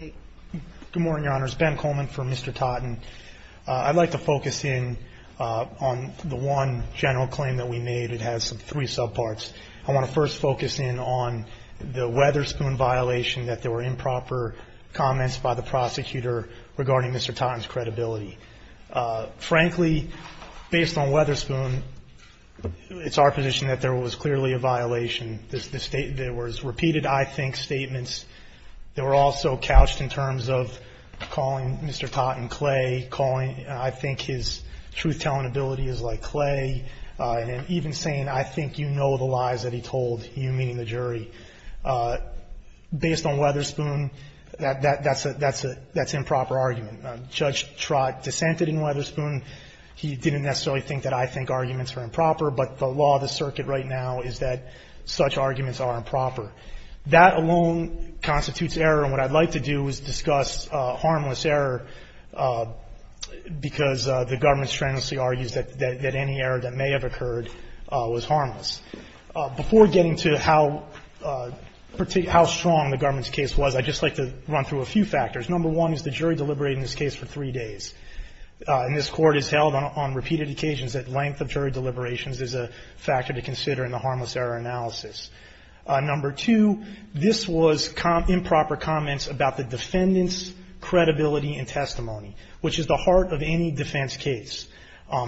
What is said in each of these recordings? Good morning, Your Honors. Ben Coleman for Mr. Totten. I'd like to focus in on the one general claim that we made. It has three sub parts. I want to first focus in on the Weatherspoon violation that there were improper comments by the prosecutor regarding Mr. Totten's credibility. Frankly, based on Weatherspoon it's our position that there was clearly a violation. There was repeated I think statements that were also couched in terms of calling Mr. Totten clay, calling I think his truth telling ability is like clay, and even saying I think you know the lies that he told, you meaning the jury. Based on Weatherspoon, that's improper argument. Judge Trott dissented in Weatherspoon. He didn't necessarily think that I think arguments are improper, but the law of the statute says that such arguments are improper. That alone constitutes error. And what I'd like to do is discuss harmless error because the government strenuously argues that any error that may have occurred was harmless. Before getting to how strong the government's case was, I'd just like to run through a few factors. Number one is the jury deliberated in this case for three days. And this Court has held on repeated occasions that length of jury deliberations is a factor to consider in the harmless error analysis. Number two, this was improper comments about the defendant's credibility and testimony, which is the heart of any defense case.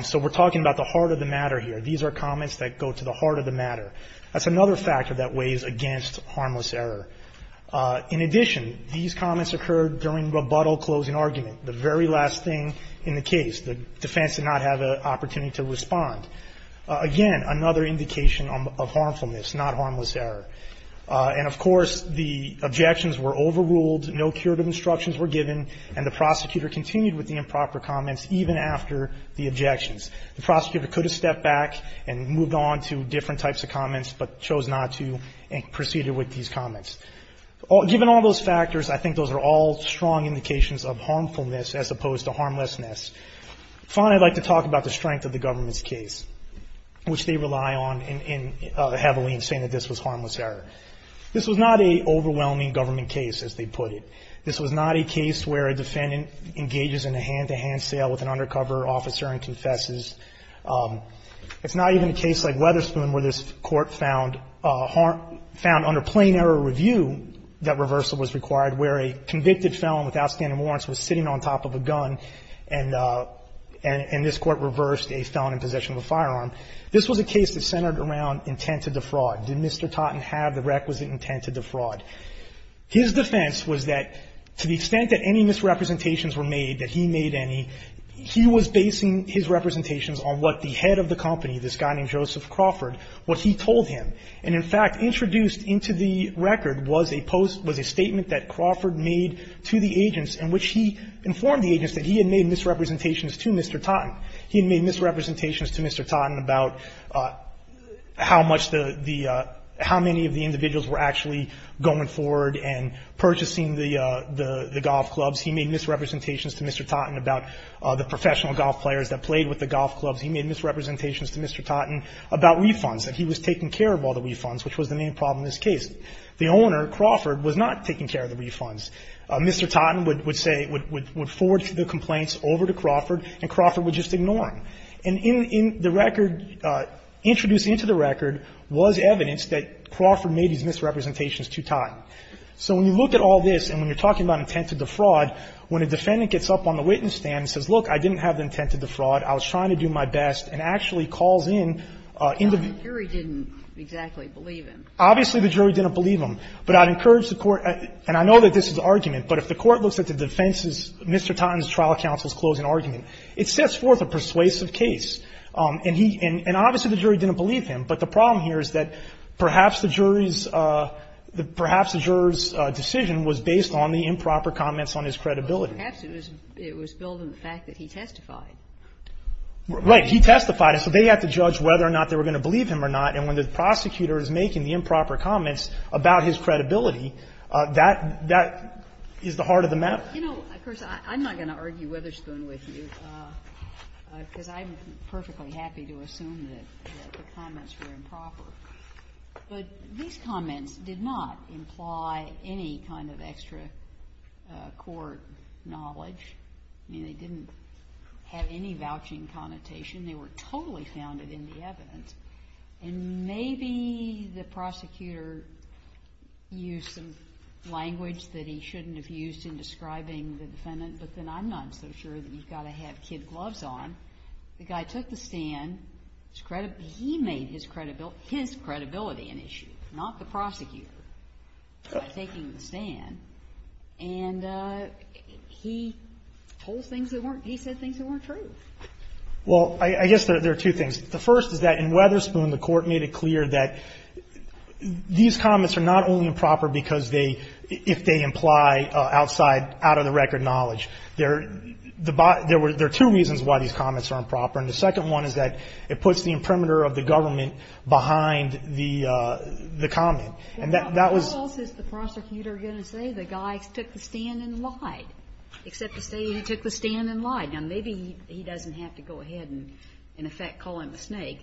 So we're talking about the heart of the matter here. These are comments that go to the heart of the matter. That's another factor that weighs against harmless error. In addition, these comments occurred during rebuttal closing argument, the very last thing in the case. The defense did not have an opportunity to respond. Again, another indication of harmfulness, not harmless error. And of course, the objections were overruled, no curative instructions were given, and the prosecutor continued with the improper comments even after the objections. The prosecutor could have stepped back and moved on to different types of comments, but chose not to and proceeded with these comments. Given all those factors, I think those are all strong indications of harmfulness as opposed to harmlessness. Finally, I'd like to talk about the strength of the government's case, which they rely on heavily in saying that this was harmless error. This was not an overwhelming government case, as they put it. This was not a case where a defendant engages in a hand-to-hand sale with an undercover officer and confesses. It's not even a case like Weatherspoon where this Court found under plain error review that reversal was required, where a convicted felon without standing warrants was sitting on top of a gun and this Court reversed a felon in possession of a firearm. This was a case that centered around intent to defraud. Did Mr. Totten have the requisite intent to defraud? His defense was that to the extent that any misrepresentations were made, that he made any, he was basing his representations on what the head of the company, this guy named Joseph Crawford, what he told him. And in fact, introduced into the record was a statement that Crawford made to the agents in which he informed the agents that he had made misrepresentations to Mr. Totten. He had made misrepresentations to Mr. Totten about how much the the how many of the individuals were actually going forward and purchasing the golf clubs. He made misrepresentations to Mr. Totten about the professional golf players that played with the golf clubs. He made misrepresentations to Mr. Totten about refunds, that he was taking care of all the refunds, which was the main problem in this case. The owner, Crawford, was not taking care of the refunds. Mr. Totten would say, would forward the complaints over to Crawford, and Crawford would just ignore him. And in the record, introduced into the record was evidence that Crawford made his misrepresentations to Totten. So when you look at all this and when you're talking about intent to defraud, when a defendant gets up on the witness stand and says, look, I didn't have the intent to defraud, I was trying to do my best, and actually calls in, in the view. The jury didn't exactly believe him. Obviously, the jury didn't believe him. But I'd encourage the Court, and I know that this is an argument, but if the Court looks at the defense's, Mr. Totten's trial counsel's closing argument, it sets forth a persuasive case. And he, and obviously the jury didn't believe him, but the problem here is that perhaps the jury's, perhaps the juror's decision was based on the improper comments on his credibility. But perhaps it was built on the fact that he testified. Right. He testified, and so they had to judge whether or not they were going to believe him or not, and when the prosecutor is making the improper comments about his credibility, that, that is the heart of the matter. You know, of course, I'm not going to argue Witherspoon with you, because I'm perfectly happy to assume that the comments were improper. But these comments did not imply any kind of extra court knowledge. I mean, they didn't have any vouching connotation. They were totally founded in the evidence. And maybe the prosecutor used some language that he shouldn't have used in describing the defendant, but then I'm not so sure that you've got to have kid gloves on. The guy took the stand. He made his credibility an issue, not the prosecutor, by taking the stand. And he told things that weren't – he said things that weren't true. Well, I guess there are two things. The first is that in Witherspoon, the Court made it clear that these comments are not only improper because they – if they imply outside, out-of-the-record knowledge, they're – there are two reasons why these comments are improper. And the second one is that it puts the imprimatur of the government behind the comment. And that was – Well, what else is the prosecutor going to say? The guy took the stand and lied, except to say he took the stand and lied. Now, maybe he doesn't have to go ahead and, in effect, call him a snake.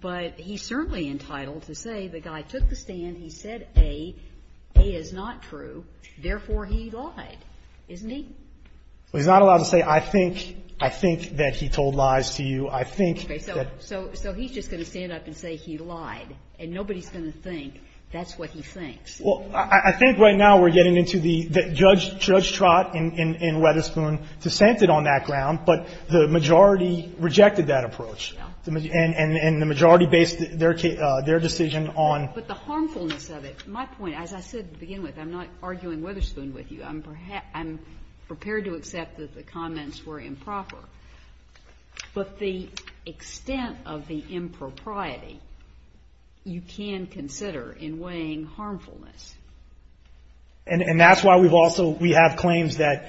But he's certainly entitled to say the guy took the stand, he said A, A is not true. Therefore, he lied, isn't he? Well, he's not allowed to say, I think – I think that he told lies to you. I think that – Okay. So he's just going to stand up and say he lied. And nobody's going to think that's what he thinks. Well, I think right now we're getting into the – Judge Trott and Witherspoon dissented on that ground, but the majority rejected that approach. And the majority based their decision on – But the harmfulness of it – my point, as I said to begin with, I'm not arguing Witherspoon with you. I'm prepared to accept that the comments were improper. But the extent of the impropriety, you can consider in weighing harmfulness. And that's why we've also – we have claims that,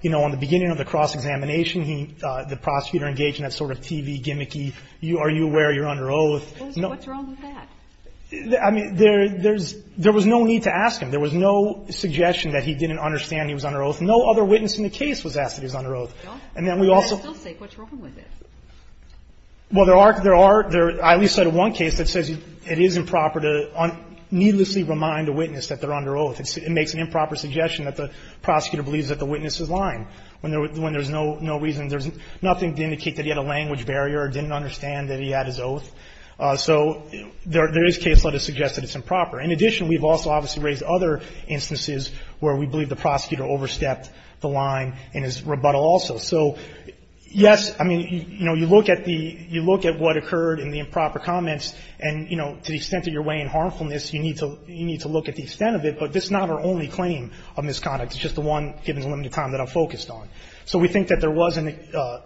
you know, on the beginning of the cross-examination, the prosecutor engaged in that sort of TV gimmicky, are you aware you're under oath? What's wrong with that? I mean, there's – there was no need to ask him. There was no suggestion that he didn't understand he was under oath. No other witness in the case was asked that he was under oath. And then we also – I still say, what's wrong with it? Well, there are – there are – I at least cited one case that says it is improper to needlessly remind a witness that they're under oath. It makes an improper suggestion that the prosecutor believes that the witness is lying when there's no reason – there's nothing to indicate that he had a language barrier or didn't understand that he had his oath. So there is case law to suggest that it's improper. In addition, we've also obviously raised other instances where we believe the prosecutor overstepped the line in his rebuttal also. So, yes, I mean, you know, you look at the – you look at what occurred in the improper comments, and, you know, to the extent that you're weighing harmfulness, you need to – you need to look at the extent of it. But this is not our only claim of misconduct. It's just the one, given the limited time, that I'm focused on. So we think that there was an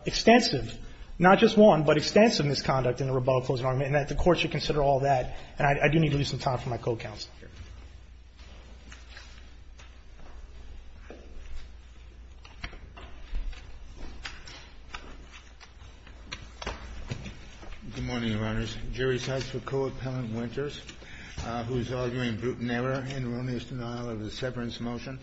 extensive, not just one, but extensive misconduct in the rebuttal closing argument, and that the Court should consider all that. And I do need to leave some time for my co-counsel here. Good morning, Your Honors. The jury cites for Co-Appellant Winters, who is arguing brutal error and erroneous denial of the severance motion.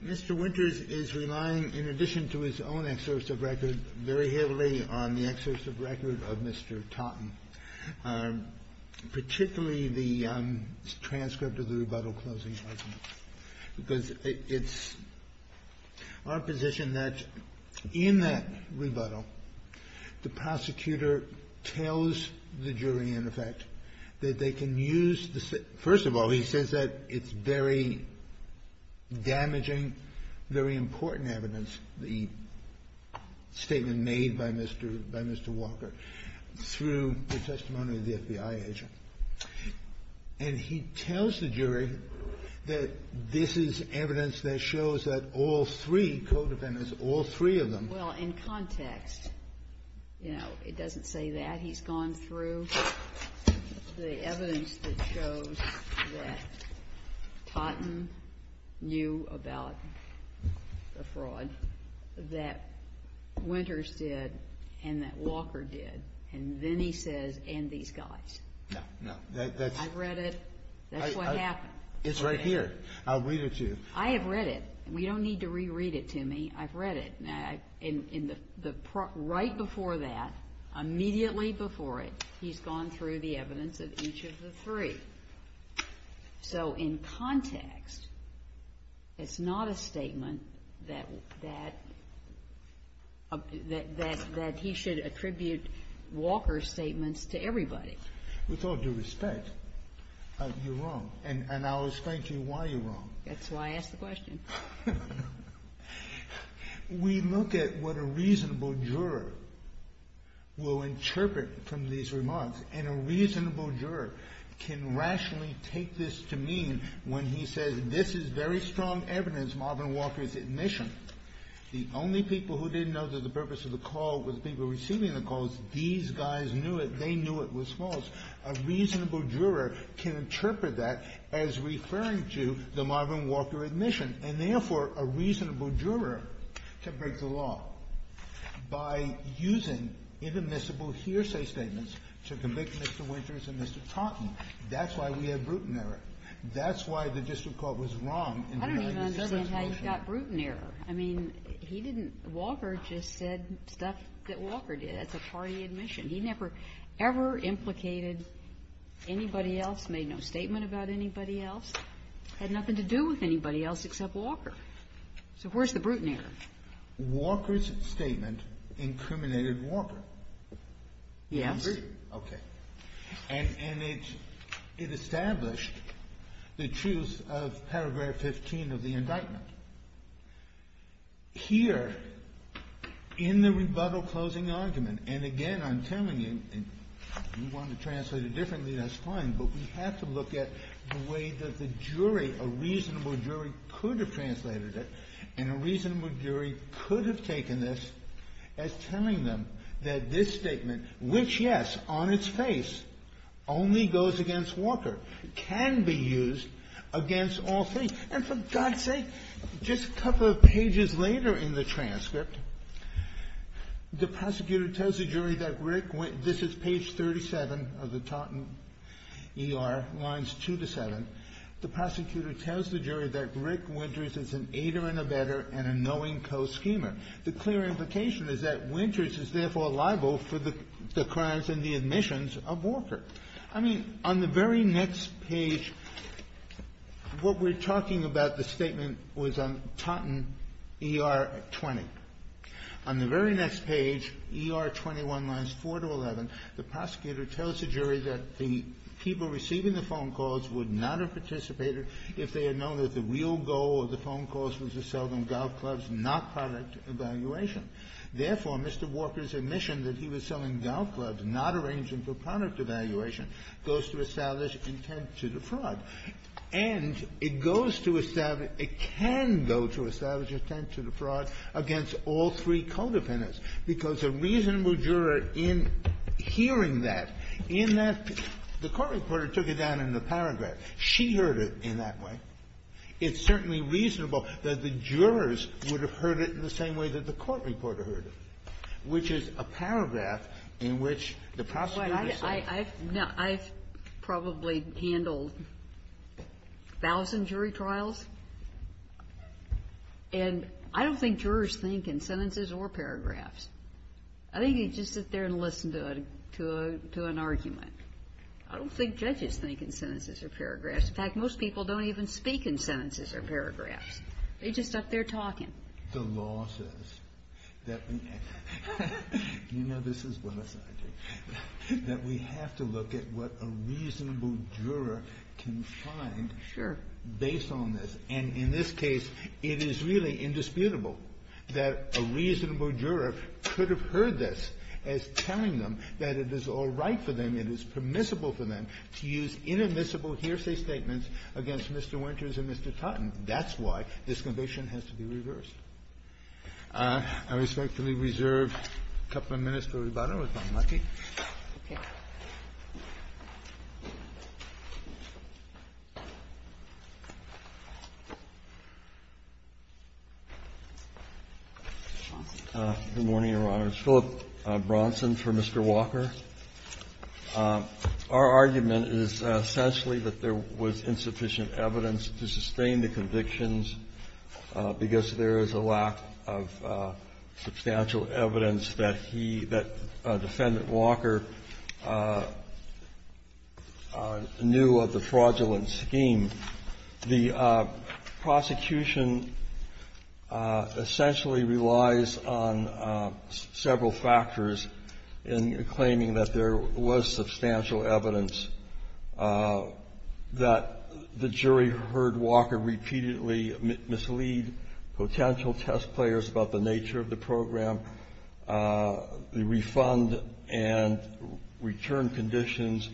Mr. Winters is relying, in addition to his own exercise of record, very heavily on the exercise of record of Mr. Totten. Particularly the transcript of the rebuttal closing argument, because it's our position that in that rebuttal, the prosecutor tells the jury, in effect, that they can use the – first of all, he says that it's very damaging, very important evidence, the statement made by Mr. Walker, through the testimony of the FBI agent. And he tells the jury that this is evidence that shows that all three co-defendants, all three of them. Well, in context, you know, it doesn't say that. He's gone through the evidence that shows that Totten knew about the fraud, that Winters did, and that Walker did, and then he says, and these guys. No. No. I've read it. That's what happened. It's right here. I'll read it to you. I have read it. We don't need to reread it to me. I've read it. And in the – right before that, immediately before it, he's gone through the evidence of each of the three. So in context, it's not a statement that – that he should attribute Walker's statements to everybody. With all due respect, you're wrong, and I'll explain to you why you're wrong. That's why I asked the question. We look at what a reasonable juror will interpret from these remarks, and a reasonable juror can rationally take this to mean when he says, this is very strong evidence, Marvin Walker's admission. The only people who didn't know that the purpose of the call was people receiving the calls, these guys knew it. They knew it was false. A reasonable juror can interpret that as referring to the Marvin Walker admission, and therefore, a reasonable juror can break the law by using inadmissible hearsay statements to convict Mr. Winters and Mr. Taunton. That's why we have Bruton error. That's why the district court was wrong in the United Services motion. I don't even understand how you got Bruton error. I mean, he didn't – Walker just said stuff that Walker did. That's a party admission. He never, ever implicated anybody else, made no statement about anybody else, had nothing to do with anybody else except Walker. So where's the Bruton error? Walker's statement incriminated Walker. Yes. Okay. And it established the truth of paragraph 15 of the indictment. Here, in the rebuttal closing argument, and again, I'm telling you, and you want to look at the way that the jury, a reasonable jury, could have translated it, and a reasonable jury could have taken this as telling them that this statement, which, yes, on its face, only goes against Walker, can be used against all things. And for God's sake, just a couple of pages later in the transcript, the prosecutor tells the jury that Rick – this is page 37 of the Taunton ER, lines 2 to 7. The prosecutor tells the jury that Rick Winters is an aider and abetter and a knowing co-schemer. The clear implication is that Winters is therefore liable for the crimes and the admissions of Walker. I mean, on the very next page, what we're talking about, the statement was on Taunton ER 20. On the very next page, ER 21, lines 4 to 11, the prosecutor tells the jury that the people receiving the phone calls would not have participated if they had known that the real goal of the phone calls was to sell them golf clubs, not product evaluation. Therefore, Mr. Walker's admission that he was selling golf clubs, not arranging for product evaluation, goes to establish intent to defraud. And it goes to establish – it can go to establish intent to defraud against all three codependents, because a reasonable juror, in hearing that, in that – the court reporter took it down in the paragraph. She heard it in that way. It's certainly reasonable that the jurors would have heard it in the same way that the court reporter heard it, which is a paragraph in which the prosecutor said – probably handled a thousand jury trials. And I don't think jurors think in sentences or paragraphs. I think they just sit there and listen to an argument. I don't think judges think in sentences or paragraphs. In fact, most people don't even speak in sentences or paragraphs. They're just up there talking. The law says that we – you know this as well as I do – that we have to look at what a reasonable juror can find based on this. And in this case, it is really indisputable that a reasonable juror could have heard this as telling them that it is all right for them, it is permissible for them, to use inadmissible hearsay statements against Mr. Winters and Mr. Totten. That's why this conviction has to be reversed. I respectfully reserve a couple of minutes for rebuttal, if I'm lucky. Good morning, Your Honors. Philip Bronson for Mr. Walker. Our argument is essentially that there was insufficient evidence to sustain the conviction because there is a lack of substantial evidence that he – that Defendant Walker knew of the fraudulent scheme. The prosecution essentially relies on several factors in claiming that there was substantial evidence, that the jury heard Walker repeatedly mislead potential test players about the nature of the program, the refund and return conditions,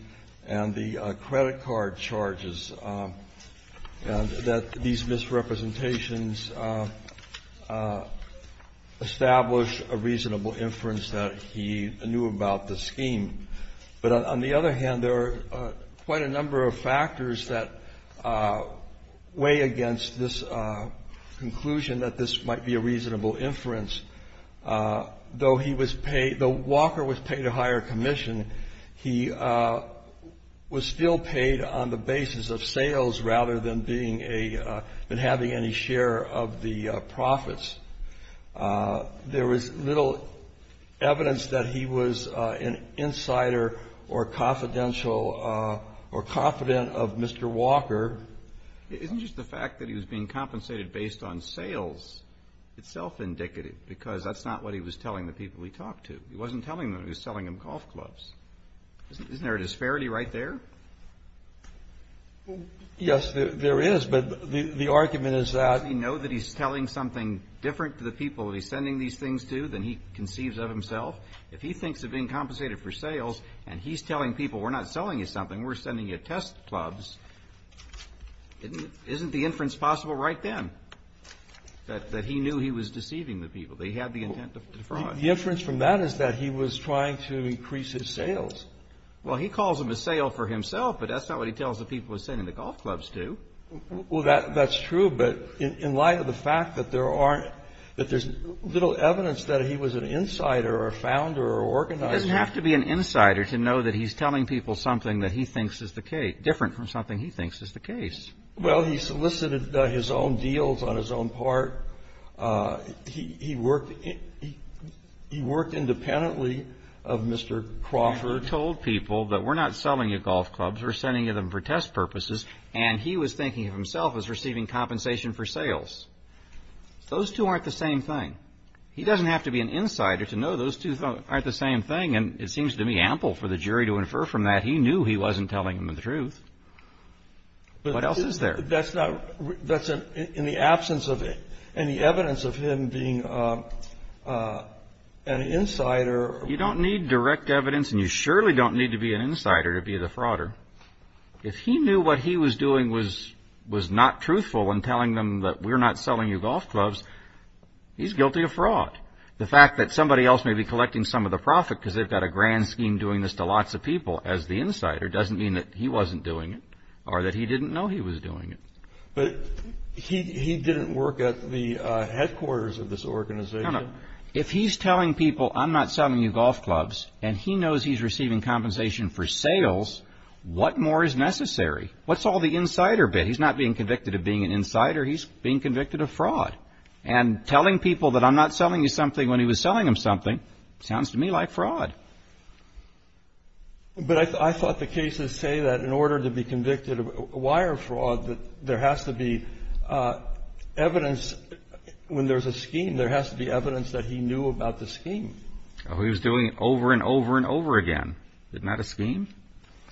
and the credit card charges, and that these misrepresentations establish a reasonable inference that he knew about the scheme. But on the other hand, there are quite a number of factors that weigh against this conclusion that this might be a reasonable inference. Though he was paid – though Walker was paid a higher commission, he was still paid on the basis of sales rather than being a – than having any share of the profits. There was little evidence that he was an insider or confidential or confident of Mr. Walker. Isn't just the fact that he was being compensated based on sales itself indicative? Because that's not what he was telling the people he talked to. He wasn't telling them. He was telling them golf clubs. Isn't there a disparity right there? Yes, there is. But the argument is that – Well, it's different to the people that he's sending these things to than he conceives of himself. If he thinks of being compensated for sales and he's telling people we're not selling you something, we're sending you test clubs, isn't the inference possible right then that he knew he was deceiving the people, that he had the intent to defraud? The inference from that is that he was trying to increase his sales. Well, he calls them a sale for himself, but that's not what he tells the people he's sending the golf clubs to. Well, that's true, but in light of the fact that there's little evidence that he was an insider or a founder or organizer – He doesn't have to be an insider to know that he's telling people something that he thinks is different from something he thinks is the case. Well, he solicited his own deals on his own part. He worked independently of Mr. Crawford. He told people that we're not selling you golf clubs. We're sending you them for test purposes. And he was thinking of himself as receiving compensation for sales. Those two aren't the same thing. He doesn't have to be an insider to know those two aren't the same thing. And it seems to me ample for the jury to infer from that he knew he wasn't telling them the truth. What else is there? That's in the absence of it. And the evidence of him being an insider – You don't need direct evidence and you surely don't need to be an insider to be the frauder. If he knew what he was doing was not truthful in telling them that we're not selling you golf clubs, he's guilty of fraud. The fact that somebody else may be collecting some of the profit because they've got a grand scheme doing this to lots of people as the insider doesn't mean that he wasn't doing it or that he didn't know he was doing it. But he didn't work at the headquarters of this organization. No, no. If he's telling people I'm not selling you golf clubs and he knows he's What more is necessary? What's all the insider bit? He's not being convicted of being an insider. He's being convicted of fraud. And telling people that I'm not selling you something when he was selling them something sounds to me like fraud. But I thought the cases say that in order to be convicted of wire fraud, that there has to be evidence when there's a scheme, there has to be evidence that he knew about the scheme. He was doing it over and over and over again. Isn't that a scheme?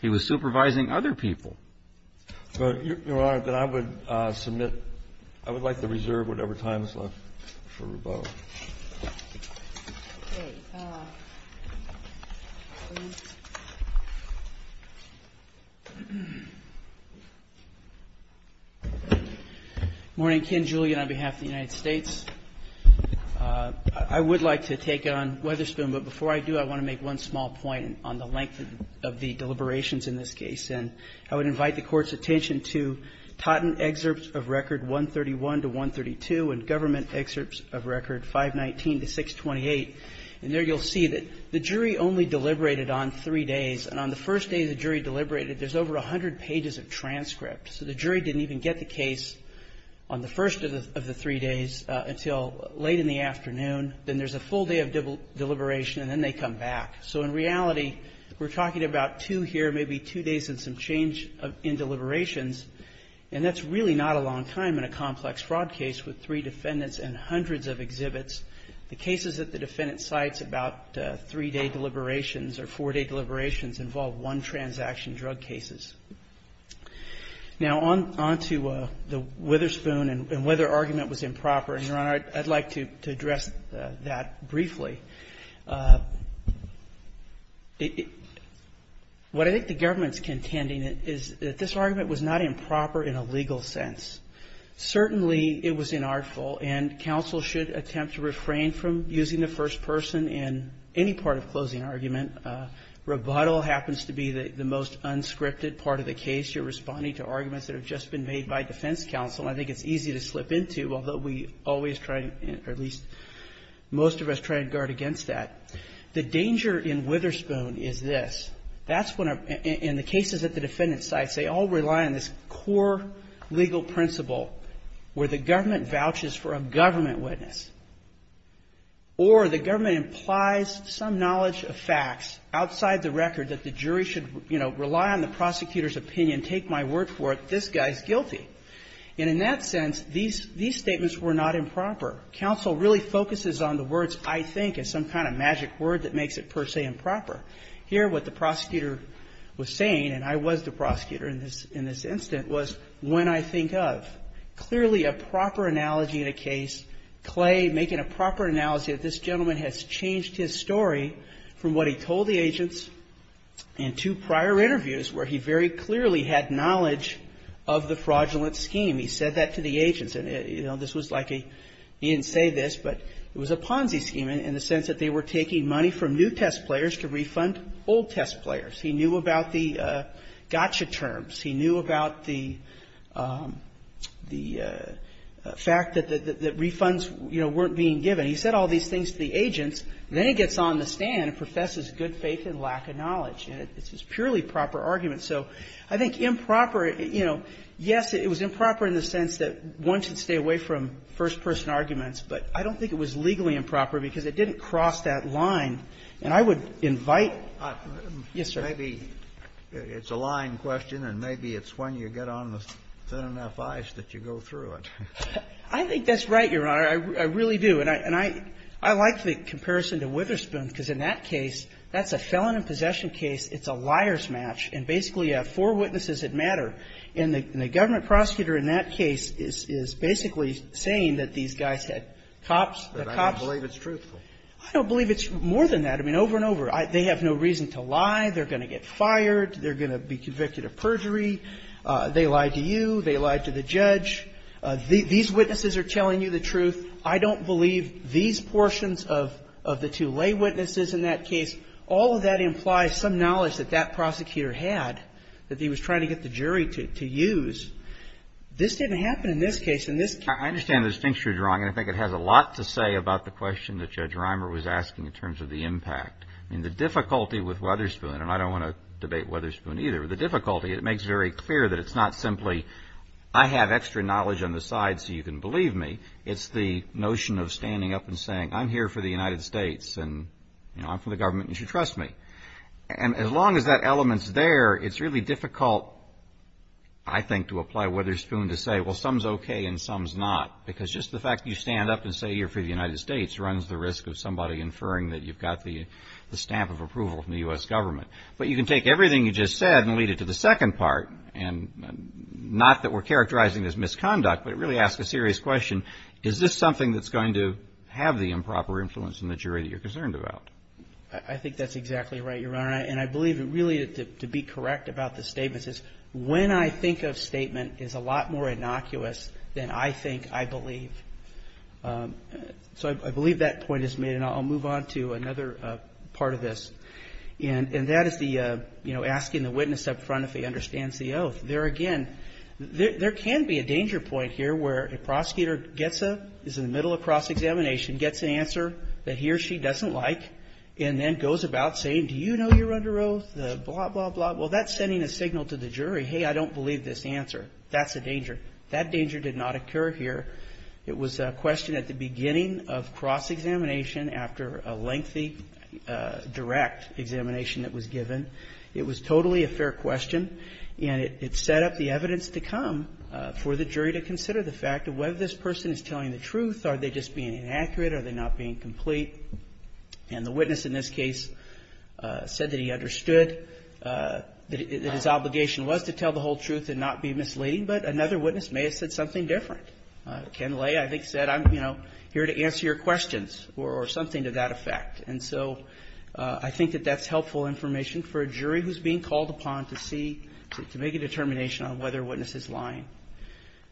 He was supervising other people. Your Honor, then I would submit, I would like to reserve whatever time is left for Rubeau. Okay. Please. Morning. Ken Julian on behalf of the United States. I would like to take it on Weatherspoon, but before I do, I want to make one small point on the length of the deliberations in this case. And I would invite the Court's attention to Totten excerpts of record 131 to 132 and government excerpts of record 519 to 628. And there you'll see that the jury only deliberated on three days. And on the first day the jury deliberated, there's over 100 pages of transcript. So the jury didn't even get the case on the first of the three days until late in the afternoon. Then there's a full day of deliberation, and then they come back. So in reality, we're talking about two here, maybe two days and some change in deliberations. And that's really not a long time in a complex fraud case with three defendants and hundreds of exhibits. The cases that the defendant cites about three-day deliberations or four-day deliberations involve one-transaction drug cases. Now, on to the Weatherspoon and whether argument was improper. And, Your Honor, I'd like to address that briefly. What I think the government's contending is that this argument was not improper in a legal sense. Certainly it was inartful, and counsel should attempt to refrain from using the first person in any part of closing argument. Rebuttal happens to be the most unscripted part of the case. You're responding to arguments that have just been made by defense counsel. I think it's easy to slip into, although we always try to, or at least most of us, try to guard against that. The danger in Witherspoon is this. That's when, in the cases that the defendant cites, they all rely on this core legal principle where the government vouches for a government witness, or the government implies some knowledge of facts outside the record that the jury should, you know, rely on the prosecutor's opinion, take my word for it, this guy's guilty. And in that sense, these statements were not improper. Counsel really focuses on the words, I think, as some kind of magic word that makes it per se improper. Here, what the prosecutor was saying, and I was the prosecutor in this instance, was when I think of. Clearly a proper analogy in a case, Clay making a proper analogy that this gentleman has changed his story from what he told the agents in two prior interviews where he very clearly had knowledge of the fraudulent scheme. He said that to the agents. You know, this was like a, he didn't say this, but it was a Ponzi scheme in the sense that they were taking money from new test players to refund old test players. He knew about the gotcha terms. He knew about the fact that refunds, you know, weren't being given. He said all these things to the agents. So I think improper, you know, yes, it was improper in the sense that one should stay away from first-person arguments, but I don't think it was legally improper because it didn't cross that line. And I would invite. Yes, sir. Kennedy. It's a line question, and maybe it's when you get on the thin enough ice that you go through it. I think that's right, Your Honor. I really do. And I like the comparison to Witherspoon because in that case, that's a felon in possession case, it's a liar's match, and basically you have four witnesses that matter. And the government prosecutor in that case is basically saying that these guys had cops, the cops. But I don't believe it's truthful. I don't believe it's more than that. I mean, over and over. They have no reason to lie. They're going to get fired. They're going to be convicted of perjury. They lied to you. They lied to the judge. These witnesses are telling you the truth. I don't believe these portions of the two lay witnesses in that case, all of that implies some knowledge that that prosecutor had, that he was trying to get the jury to use. This didn't happen in this case. In this case he was trying to get the jury to use. I understand the distinction, Your Honor. I think it has a lot to say about the question that Judge Reimer was asking in terms of the impact. I mean, the difficulty with Witherspoon, and I don't want to debate Witherspoon either. The difficulty, it makes very clear that it's not simply I have extra knowledge on the side so you can believe me. It's the notion of standing up and saying I'm here for the United States and, you know, I'm from the government and you should trust me. And as long as that element's there, it's really difficult, I think, to apply Witherspoon to say, well, some's okay and some's not. Because just the fact that you stand up and say you're for the United States runs the risk of somebody inferring that you've got the stamp of approval from the U.S. government. But you can take everything you just said and lead it to the second part, and not that we're characterizing this misconduct, but it really asks a serious question. Is this something that's going to have the improper influence in the jury that you're concerned about? I think that's exactly right, Your Honor. And I believe it really, to be correct about the statements, is when I think of statement is a lot more innocuous than I think I believe. So I believe that point is made. And I'll move on to another part of this. And that is the, you know, asking the witness up front if he understands the oath. There again, there can be a danger point here where a prosecutor gets a, is in the middle of cross-examination, gets an answer that he or she doesn't like, and then goes about saying, do you know you're under oath, blah, blah, blah. Well, that's sending a signal to the jury, hey, I don't believe this answer. That's a danger. That danger did not occur here. It was a question at the beginning of cross-examination after a lengthy direct examination that was given. It was totally a fair question, and it set up the evidence to come for the jury to And the witness in this case said that he understood that his obligation was to tell the whole truth and not be misleading, but another witness may have said something different. Ken Lay, I think, said, I'm, you know, here to answer your questions or something to that effect. And so I think that that's helpful information for a jury who's being called upon to see, to make a determination on whether a witness is lying.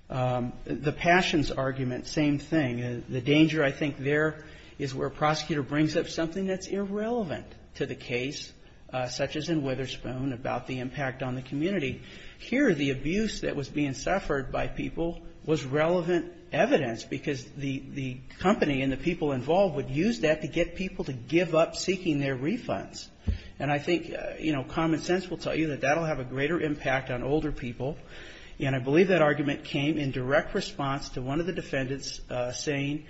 The Passions argument, same thing. The danger, I think, there is where a prosecutor brings up something that's irrelevant to the case, such as in Witherspoon, about the impact on the community. Here, the abuse that was being suffered by people was relevant evidence, because the company and the people involved would use that to get people to give up seeking their refunds. And I think, you know, common sense will tell you that that will have a greater impact on older people. And I believe that argument came in direct response to one of the defendants saying,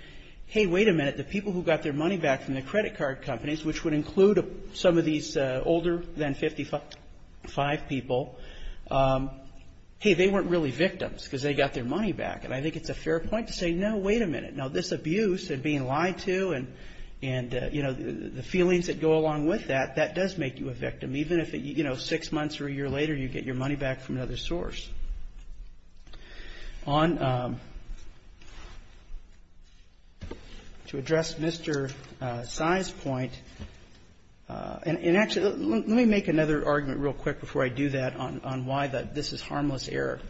hey, wait a minute, the people who got their money back from the credit card companies, which would include some of these older than 55 people, hey, they weren't really victims because they got their money back. And I think it's a fair point to say, no, wait a minute. Now, this abuse of being lied to and, you know, the feelings that go along with that, that does make you a victim, even if, you know, six months or a year later, you get your money back from another source. On to address Mr. Sy's point, and actually, let me make another argument real quick before I do that on why this is harmless error.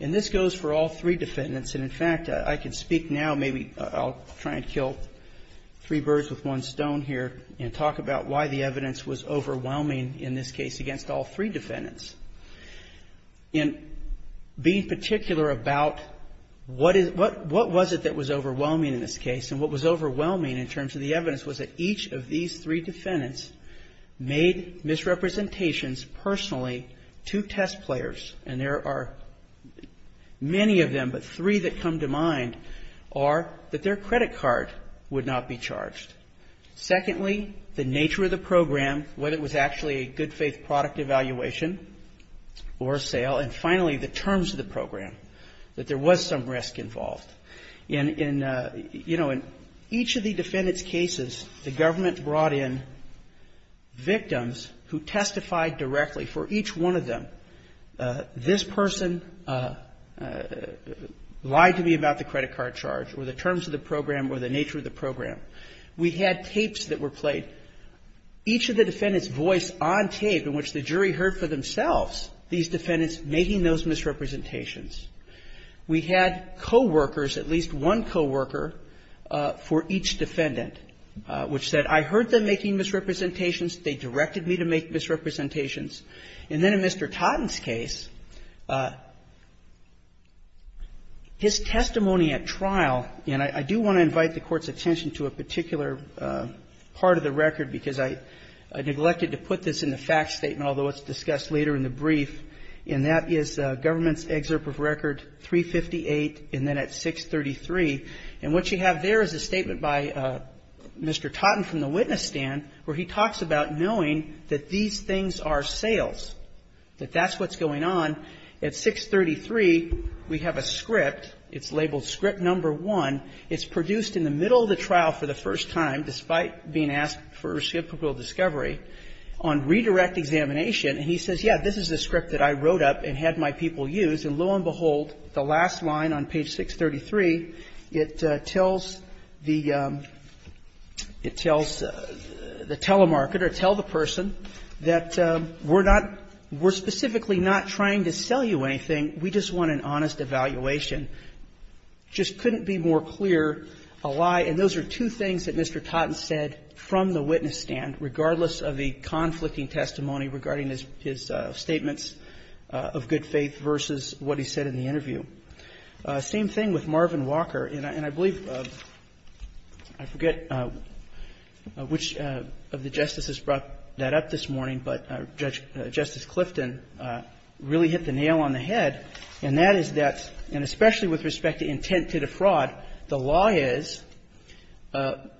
And this goes for all three defendants. And, in fact, I can speak now, maybe I'll try and kill three birds with one stone here, and talk about why the evidence was overwhelming in this case against all three defendants. In being particular about what was it that was overwhelming in this case, and what was overwhelming in terms of the evidence was that each of these three defendants made misrepresentations personally to test players. And there are many of them, but three that come to mind are that their credit card would not be charged. Secondly, the nature of the program, whether it was actually a good faith product evaluation or a sale, and finally, the terms of the program, that there was some risk involved. In, you know, in each of the defendants' cases, the government brought in victims who testified directly for each one of them. This person lied to me about the credit card charge, or the terms of the program, or the nature of the program. We had tapes that were played. Each of the defendants' voice on tape in which the jury heard for themselves these defendants making those misrepresentations. We had coworkers, at least one coworker, for each defendant, which said, I heard them making misrepresentations, they directed me to make misrepresentations. And then in Mr. Totten's case, his testimony at trial, and I do want to invite the Court's attention to a particular part of the record, because I neglected to put this in the fact statement, although it's discussed later in the brief, and that is government's excerpt of record 358, and then at 633. And what you have there is a statement by Mr. Totten from the witness stand where he talks about knowing that these things are sales, that that's what's going on. At 633, we have a script. It's labeled Script No. 1. It's produced in the middle of the trial for the first time, despite being asked for reciprocal discovery, on redirect examination. And he says, yeah, this is the script that I wrote up and had my people use. And lo and behold, the last line on page 633, it tells the telemarketer, tell the person that we're not we're specifically not trying to sell you anything. We just want an honest evaluation. Just couldn't be more clear, a lie. And those are two things that Mr. Totten said from the witness stand, regardless of the conflicting testimony regarding his statements of good faith versus what he said in the interview. Same thing with Marvin Walker. And I believe, I forget which of the Justices brought that up this morning, but Judge Justice Clifton really hit the nail on the head. And that is that, and especially with respect to intent to defraud, the law is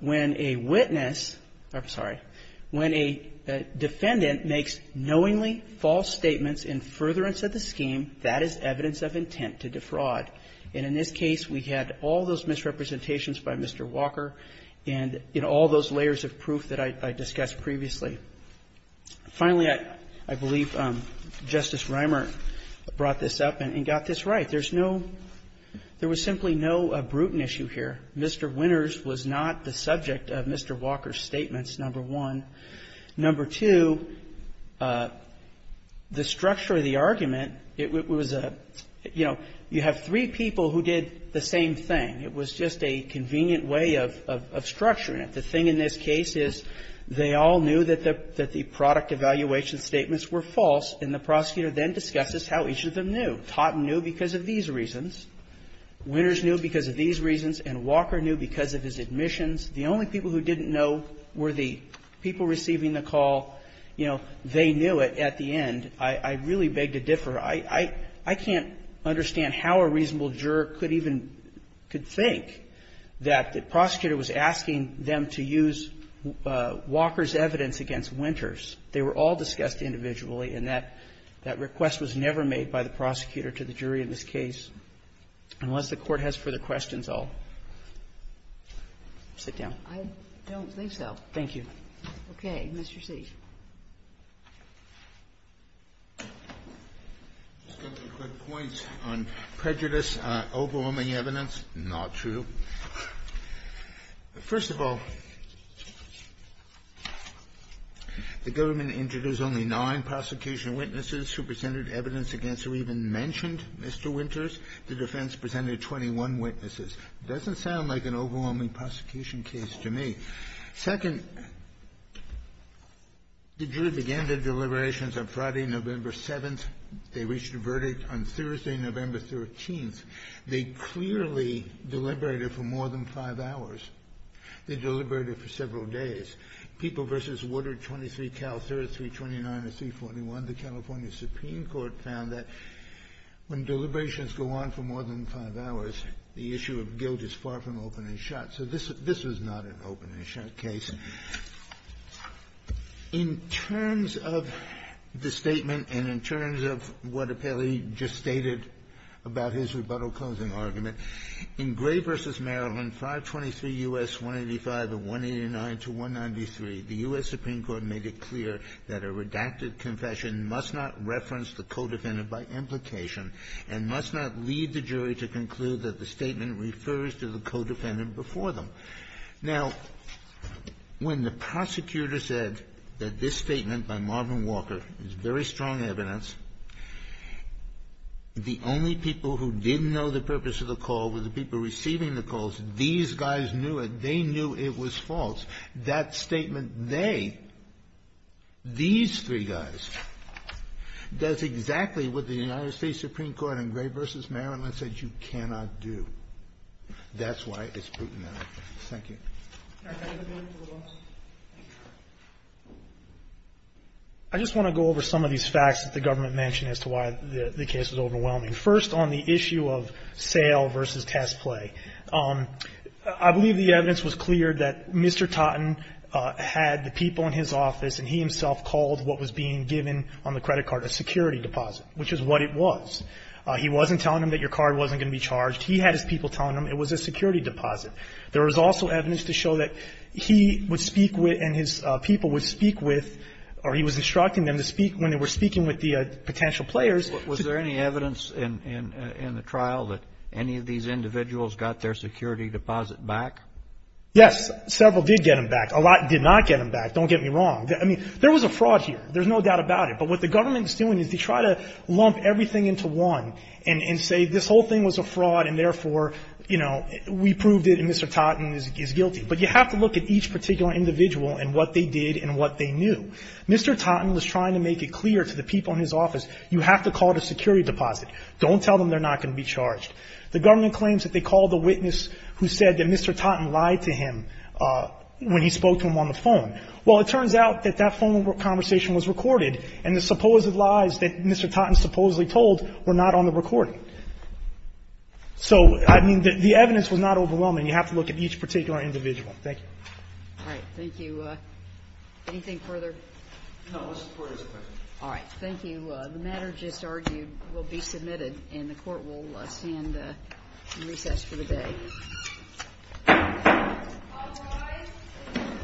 when a witness or, I'm sorry, when a defendant makes knowingly false statements in furtherance of the scheme, that is evidence of intent to defraud. And in this case, we had all those misrepresentations by Mr. Walker and, you know, all those layers of proof that I discussed previously. Finally, I believe Justice Reimer brought this up and got this right. There's no – there was simply no Bruton issue here. Mr. Winters was not the subject of Mr. Walker's statements, number one. Number two, the structure of the argument, it was a – you know, you have three people who did the same thing. It was just a convenient way of – of structuring it. The thing in this case is they all knew that the – that the product evaluation statements were false, and the prosecutor then discusses how each of them knew. Totten knew because of these reasons. Winters knew because of these reasons. And Walker knew because of his admissions. The only people who didn't know were the people receiving the call. You know, they knew it at the end. I really beg to differ. I – I can't understand how a reasonable juror could even – could think that the prosecutor was asking them to use Walker's evidence against Winters. They were all discussed individually, and that – that request was never made by the prosecutor to the jury in this case. Unless the Court has further questions, I'll sit down. Kagan. I don't think so. Thank you. Okay. Mr. C. Just a quick point on prejudice, overwhelming evidence, not true. First of all, the government introduced only nine prosecution witnesses who presented evidence against or even mentioned Mr. Winters. The defense presented 21 witnesses. It doesn't sound like an overwhelming prosecution case to me. Second, the jury began their deliberations on Friday, November 7th. They reached a verdict on Thursday, November 13th. They clearly deliberated for more than five hours. They deliberated for several days. People v. Woodard, 23, Cal, 3, 329, and 341, the California Supreme Court found that when deliberations go on for more than five hours, the issue of guilt is far from open and shut. So this was not an open and shut case. In terms of the statement and in terms of what apparently he just stated about his rebuttal closing argument, in Gray v. Maryland, 523 U.S. 185 of 189 to 193, the U.S. Supreme Court made it clear that a redacted confession must not reference the co-defendant by implication and must not lead the jury to conclude that the statement refers to the co-defendant before them. Now, when the prosecutor said that this statement by Marvin Walker is very strong evidence, the only people who didn't know the purpose of the call were the people receiving the calls. These guys knew it. They knew it was false. That statement they, these three guys, does exactly what the United States Supreme Court in Gray v. Maryland said you cannot do. That's why it's brutal. Thank you. I just want to go over some of these facts that the government mentioned as to why the case is overwhelming. First, on the issue of sale versus test play, I believe the evidence was clear that Mr. Totten had the people in his office and he himself called what was being given on the credit card, a security deposit, which is what it was. He wasn't telling them that your card wasn't going to be charged. He had his people telling him it was a security deposit. There was also evidence to show that he would speak with and his people would speak with or he was instructing them to speak when they were speaking with the potential players. Was there any evidence in the trial that any of these individuals got their security deposit back? Yes. Several did get them back. A lot did not get them back. Don't get me wrong. I mean, there was a fraud here. There's no doubt about it. But what the government is doing is they try to lump everything into one and say this whole thing was a fraud and therefore, you know, we proved it and Mr. Totten is guilty. But you have to look at each particular individual and what they did and what they knew. Mr. Totten was trying to make it clear to the people in his office, you have to call it a security deposit. Don't tell them they're not going to be charged. The government claims that they called the witness who said that Mr. Totten lied to him when he spoke to him on the phone. Well, it turns out that that phone conversation was recorded and the supposed lies that Mr. Totten supposedly told were not on the recording. So, I mean, the evidence was not overwhelming. You have to look at each particular individual. Thank you. All right. Thank you. Anything further? No. The Court is acquitted. Thank you. The matter just argued will be submitted and the Court will stand in recess for the day.